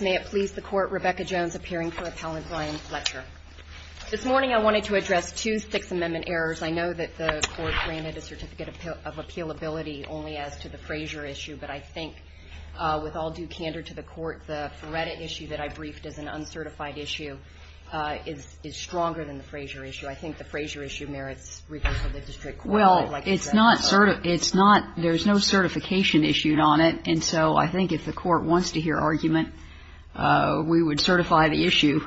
May it please the Court, Rebecca Jones appearing for Appellant Brian Fletcher. This morning I wanted to address two Sixth Amendment errors. I know that the Court granted a certificate of appealability only as to the Frazier issue, but I think with all due candor to the Court, the Feretta issue that I briefed as an uncertified issue is stronger than the Frazier issue. I think the Frazier issue merits review by the District Court. Well, there's no certification issued on it, and so I think if the Court wants to hear argument, we would certify the issue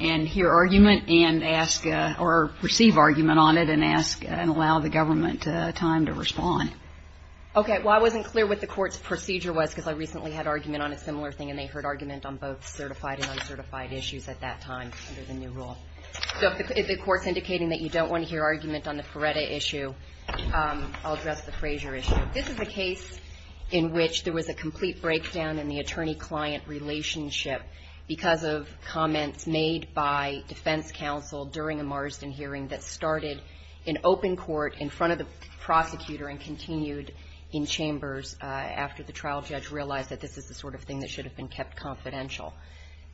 and hear argument and ask or receive argument on it and ask and allow the government time to respond. Okay. Well, I wasn't clear what the Court's procedure was because I recently had argument on a similar thing and they heard argument on both certified and uncertified issues at that time under the new rule. So if the Court's indicating that you don't want to hear argument on the Feretta issue, I'll address the Frazier issue. This is a case in which there was a complete breakdown in the attorney-client relationship because of comments made by defense counsel during a Marsden hearing that started in open court in front of the prosecutor and continued in chambers after the trial judge realized that this is the sort of thing that should have been kept confidential.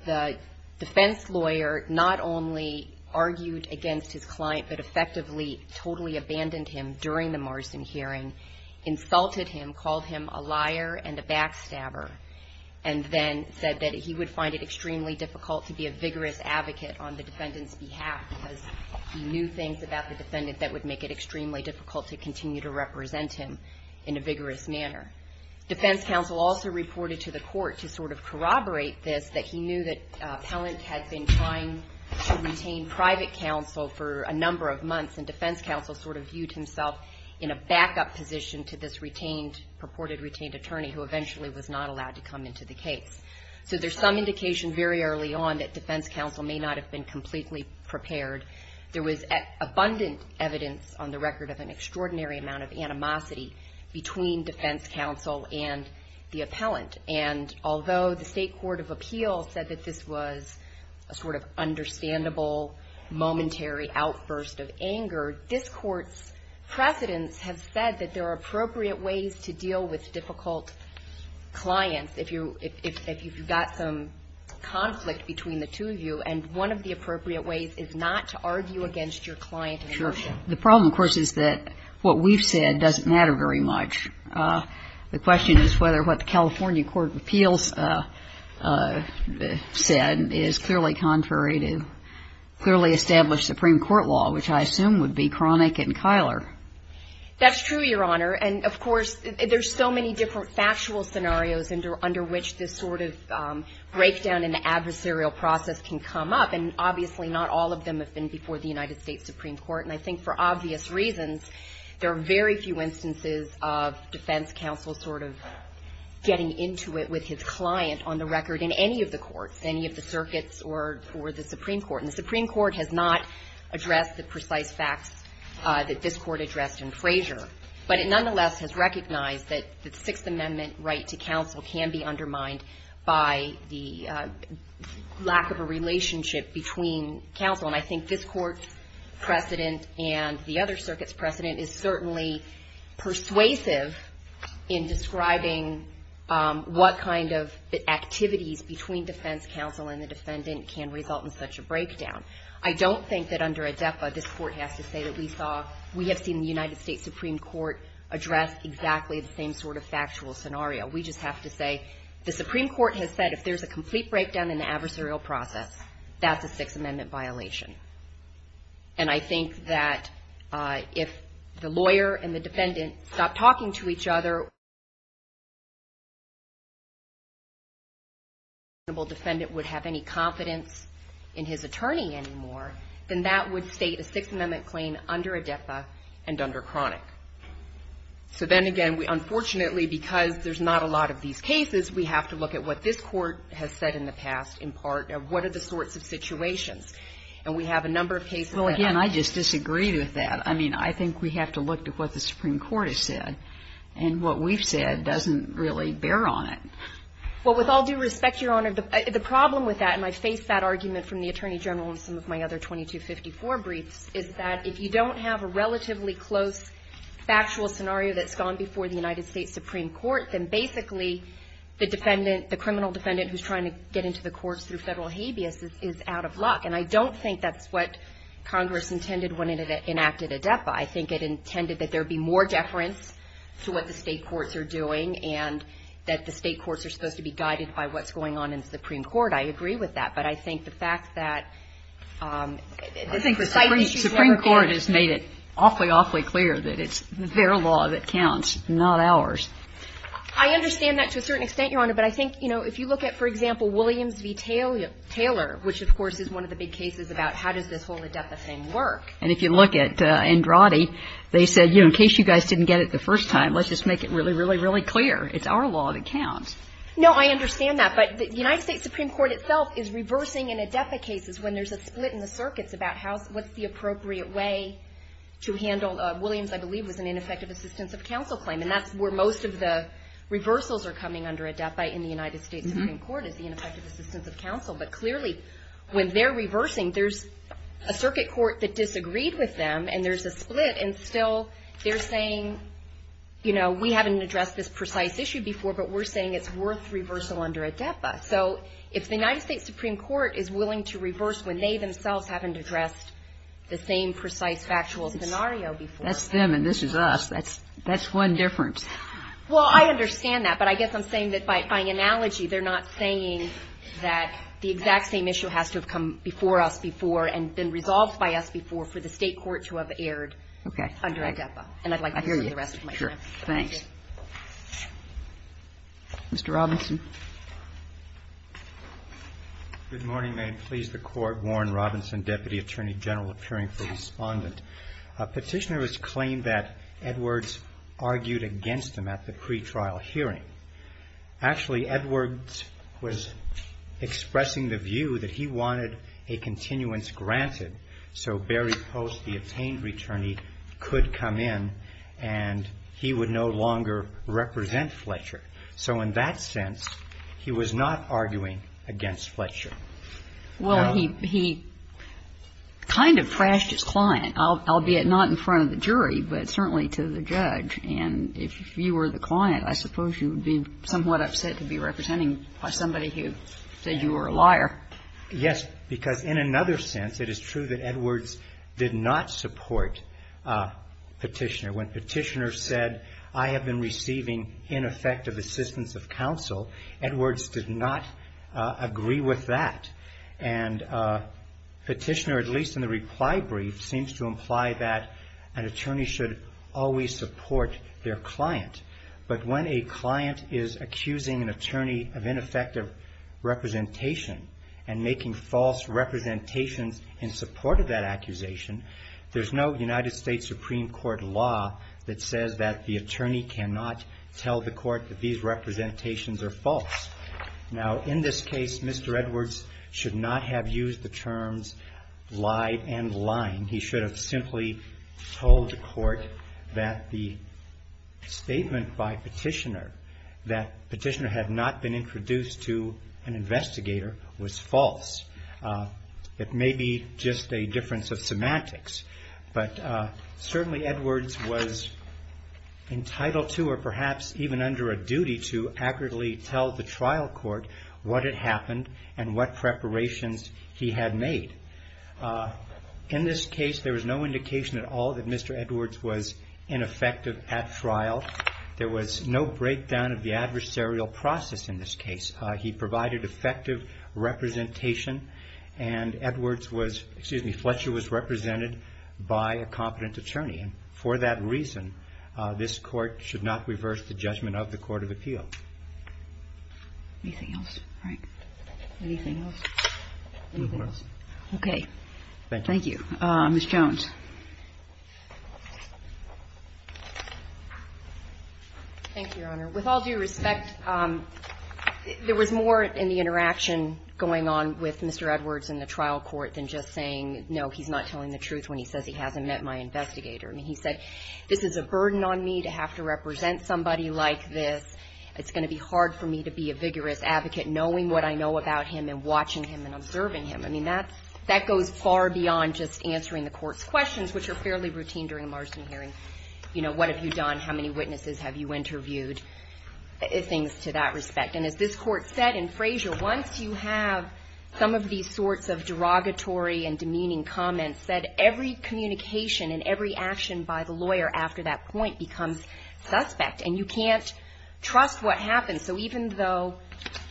The defense lawyer not only argued against his client, but effectively totally abandoned him during the Marsden hearing, insulted him, called him a liar and a backstabber, and then said that he would find it extremely difficult to be a vigorous advocate on the defendant's behalf because he knew things about the defendant that would make it extremely difficult to continue to represent him in a vigorous manner. Defense counsel also reported to the Court to sort of corroborate this, that he knew that Pellant had been trying to retain private counsel for a number of months, and defense counsel sort of put himself in a backup position to this retained, purported retained attorney who eventually was not allowed to come into the case. So there's some indication very early on that defense counsel may not have been completely prepared. There was abundant evidence on the record of an extraordinary amount of animosity between defense counsel and the appellant, and although the State Court of Appeals said that this was a sort of understandable, momentary outburst of anger, this Court's precedents have said that there are appropriate ways to deal with difficult clients if you're if you've got some conflict between the two of you, and one of the appropriate ways is not to argue against your client. The problem, of course, is that what we've said doesn't matter very much. The question is whether what the California Court of Appeals said is clearly contrary to clearly established Supreme Court law, which I assume would be Cronick and Kyler. That's true, Your Honor, and of course, there's so many different factual scenarios under which this sort of breakdown in the adversarial process can come up, and obviously not all of them have been before the United States Supreme Court, and I think for obvious reasons, there are very few instances of defense counsel sort of getting into it with his client on the record in any of the courts, any of the circuits or the Supreme Court, and the Supreme Court has not addressed the precise facts that this Court addressed in Frazier, but it nonetheless has recognized that the Sixth Amendment right to counsel can be undermined by the lack of a relationship between counsel, and I think this Court's precedent and the other circuit's precedent is certainly persuasive in describing what kind of activities between defense counsel and the defendant can result in such a breakdown. I don't think that under ADEPA, this Court has to say that we have seen the United States Supreme Court address exactly the same sort of factual scenario. We just have to say the Supreme Court has said if there's a complete breakdown in the adversarial process, that's a Sixth Amendment violation, and I think that if the lawyer and the defendant stop talking to each other, and if the lawyer and the defendant would have any confidence in his attorney anymore, then that would state a Sixth Amendment claim under ADEPA and under chronic. So then again, unfortunately because there's not a lot of these cases, we have to look at what this Court has said in the past in part of what are the sorts of situations, and we have a number of cases Well again, I just disagree with that. I mean, I think we have to look at what the Supreme Court has said, and what we've said doesn't really bear on it. Well, with all due respect, Your Honor, the problem with that, and I face that argument from the Attorney General in some of my other 2254 briefs, is that if you don't have a relatively close factual scenario that's gone before the United States Supreme Court, then basically the defendant, the criminal defendant who's trying to get into the courts through federal habeas is out of luck, and I don't think that's what Congress intended when it enacted ADEPA. I think it intended that there would be more deference to what the State courts are doing, and that the State courts are supposed to be guided by what's going on in the Supreme Court. I agree with that, but I think the fact that Supreme Court has made it awfully, awfully clear that it's their law that counts, not ours. I understand that to a certain extent, Your Honor, but I think, you know, if you look at, for example, Williams v. Taylor, which of course is one of the big cases about how does this whole ADEPA thing work. And if you look at Andrade, they said, you know, in case you guys didn't get it the first time, let's just make it really, really, really clear. It's our law that counts. No, I understand that, but the United States Supreme Court itself is reversing in ADEPA cases when there's a split in the circuits about what's the appropriate way to handle Williams, I believe, was an ineffective assistance of counsel claim, and that's where most of the reversals are coming under ADEPA in the United States Supreme Court. And so when they're reversing, there's a circuit court that disagreed with them, and there's a split, and still they're saying, you know, we haven't addressed this precise issue before, but we're saying it's worth reversal under ADEPA. So if the United States Supreme Court is willing to reverse when they themselves haven't addressed the same precise factual scenario before. That's them, and this is us. That's one difference. Well, I understand that, but I guess I'm saying that by analogy, they're not saying that the exact same issue has to have come before us before and been resolved by us before for the State court to have erred under ADEPA. Okay. I hear you. And I'd like to hear the rest of my time. Sure. Thanks. Mr. Robinson. Good morning. May it please the Court. Warren Robinson, Deputy Attorney General appearing for Respondent. A petitioner has claimed that Edwards argued against him at the pretrial hearing. Actually, Edwards was expressing the view that he wanted a continuance granted so Barry Post, the obtained returnee, could come in and he would no longer represent Fletcher. So in that sense, he was not arguing against Fletcher. Well, he kind of thrashed his client, albeit not in front of the jury, but certainly to the judge. And if you were the client, I suppose you would be somewhat upset to be represented by somebody who said you were a liar. Yes, because in another sense, it is true that Edwards did not support Petitioner. When Petitioner said, I have been receiving ineffective assistance of counsel, Edwards did not agree with that. And Petitioner, at least in the reply brief, seems to imply that an attorney should always support their client. But when a client is accusing an attorney of ineffective representation and making false representations in support of that accusation, there's no United States Supreme Court law that says that the attorney cannot tell the court that these representations are false. Now, in this case, Mr. Edwards should not have used the terms lied and lying. He should have simply told the court that the statement by Petitioner that Petitioner had not been introduced to an investigator was false. It may be just a difference of semantics, but certainly Edwards was entitled to or perhaps even under a duty to accurately tell the trial court what had happened and what preparations he had made. In this case, there was no indication at all that Mr. Edwards was ineffective at trial. There was no breakdown of the adversarial process in this case. He provided effective representation and Edwards was, excuse me, Fletcher was represented by a competent attorney in the trial court. And I think that's a very important part of the appeal. Anything else, Frank? Anything else? Nothing else. Okay. Thank you. Thank you. Ms. Jones. Thank you, Your Honor. With all due respect, there was more in the interaction going on with Mr. Edwards in the trial court than just saying, no, he's not telling the truth when he says he hasn't met my investigator. I mean, he said, this is a burden on me to have to represent somebody like this. It's going to be hard for me to be a vigorous advocate knowing what I know about him and watching him and observing him. I mean, that goes far beyond just answering the court's questions, which are fairly routine during a marsden hearing, you know, what have you done, how many witnesses have you interviewed, things to that respect. And as this Court said in Frazier, once you have some of these sorts of derogatory and demeaning comments, that every communication and every action by the lawyer after that point becomes suspect, and you can't trust what happens. So even though,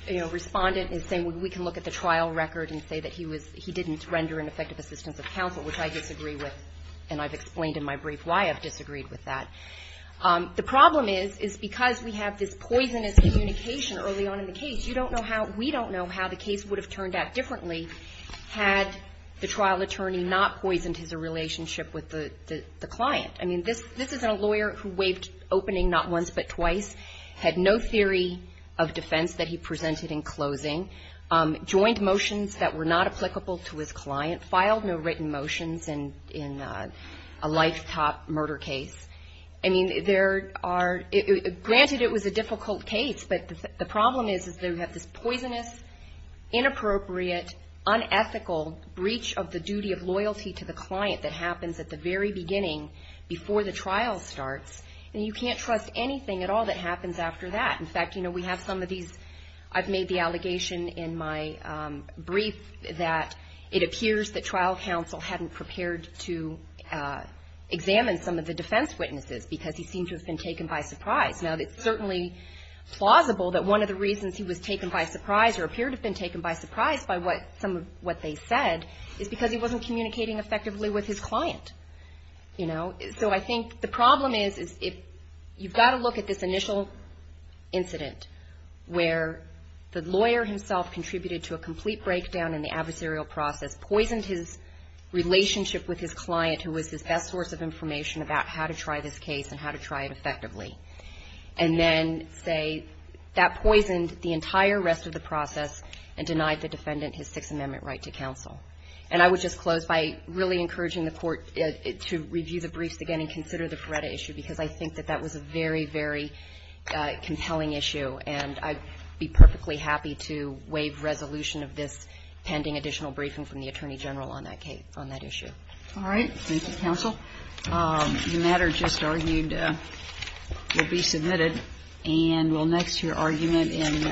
you know, Respondent is saying we can look at the trial record and say that he was he didn't render an effective assistance of counsel, which I disagree with, and I've explained in my brief why I've disagreed with that. The problem is, is because we have this poisonous communication early on in the case, you don't know how, we don't know how the case would have turned out differently had the trial attorney not poisoned his relationship with the client. I mean, this is a lawyer who waived opening not once but twice, had no theory of defense that he presented in closing, joined motions that were not applicable to his client, filed no written motions in a lifetop murder case. I mean, there are, granted it was a difficult case, but the problem is, is that we have this poisonous, inappropriate, unethical breach of the duty of loyalty to the client that happens at the very beginning before the trial starts, and you can't trust anything at all that happens after that. In fact, you know, we have some of these, I've made the allegation in my brief that it appears that trial counsel hadn't prepared to examine some of the defense witnesses because he seemed to have been taken by surprise. Now, it's certainly plausible that one of the reasons he was taken by surprise or appeared to have been taken by surprise by some of what they said is because he wasn't communicating effectively with his client, you know. So I think the problem is you've got to look at this initial incident where the lawyer himself contributed to a complete breakdown in the adversarial process, poisoned his relationship with his client, who was his best source of information about how to try this case and how to try it effectively, and then say that poisoned the entire rest of the process and denied the defendant his Sixth Amendment right to counsel. And I would just close by really giving you the briefs again and consider the Paretta issue because I think that that was a very, very compelling issue, and I'd be perfectly happy to waive resolution of this pending additional briefing from the Attorney General on that case, on that issue. All right. Thank you, counsel. The matter just argued will be submitted. And we'll next hear argument in Jimenez.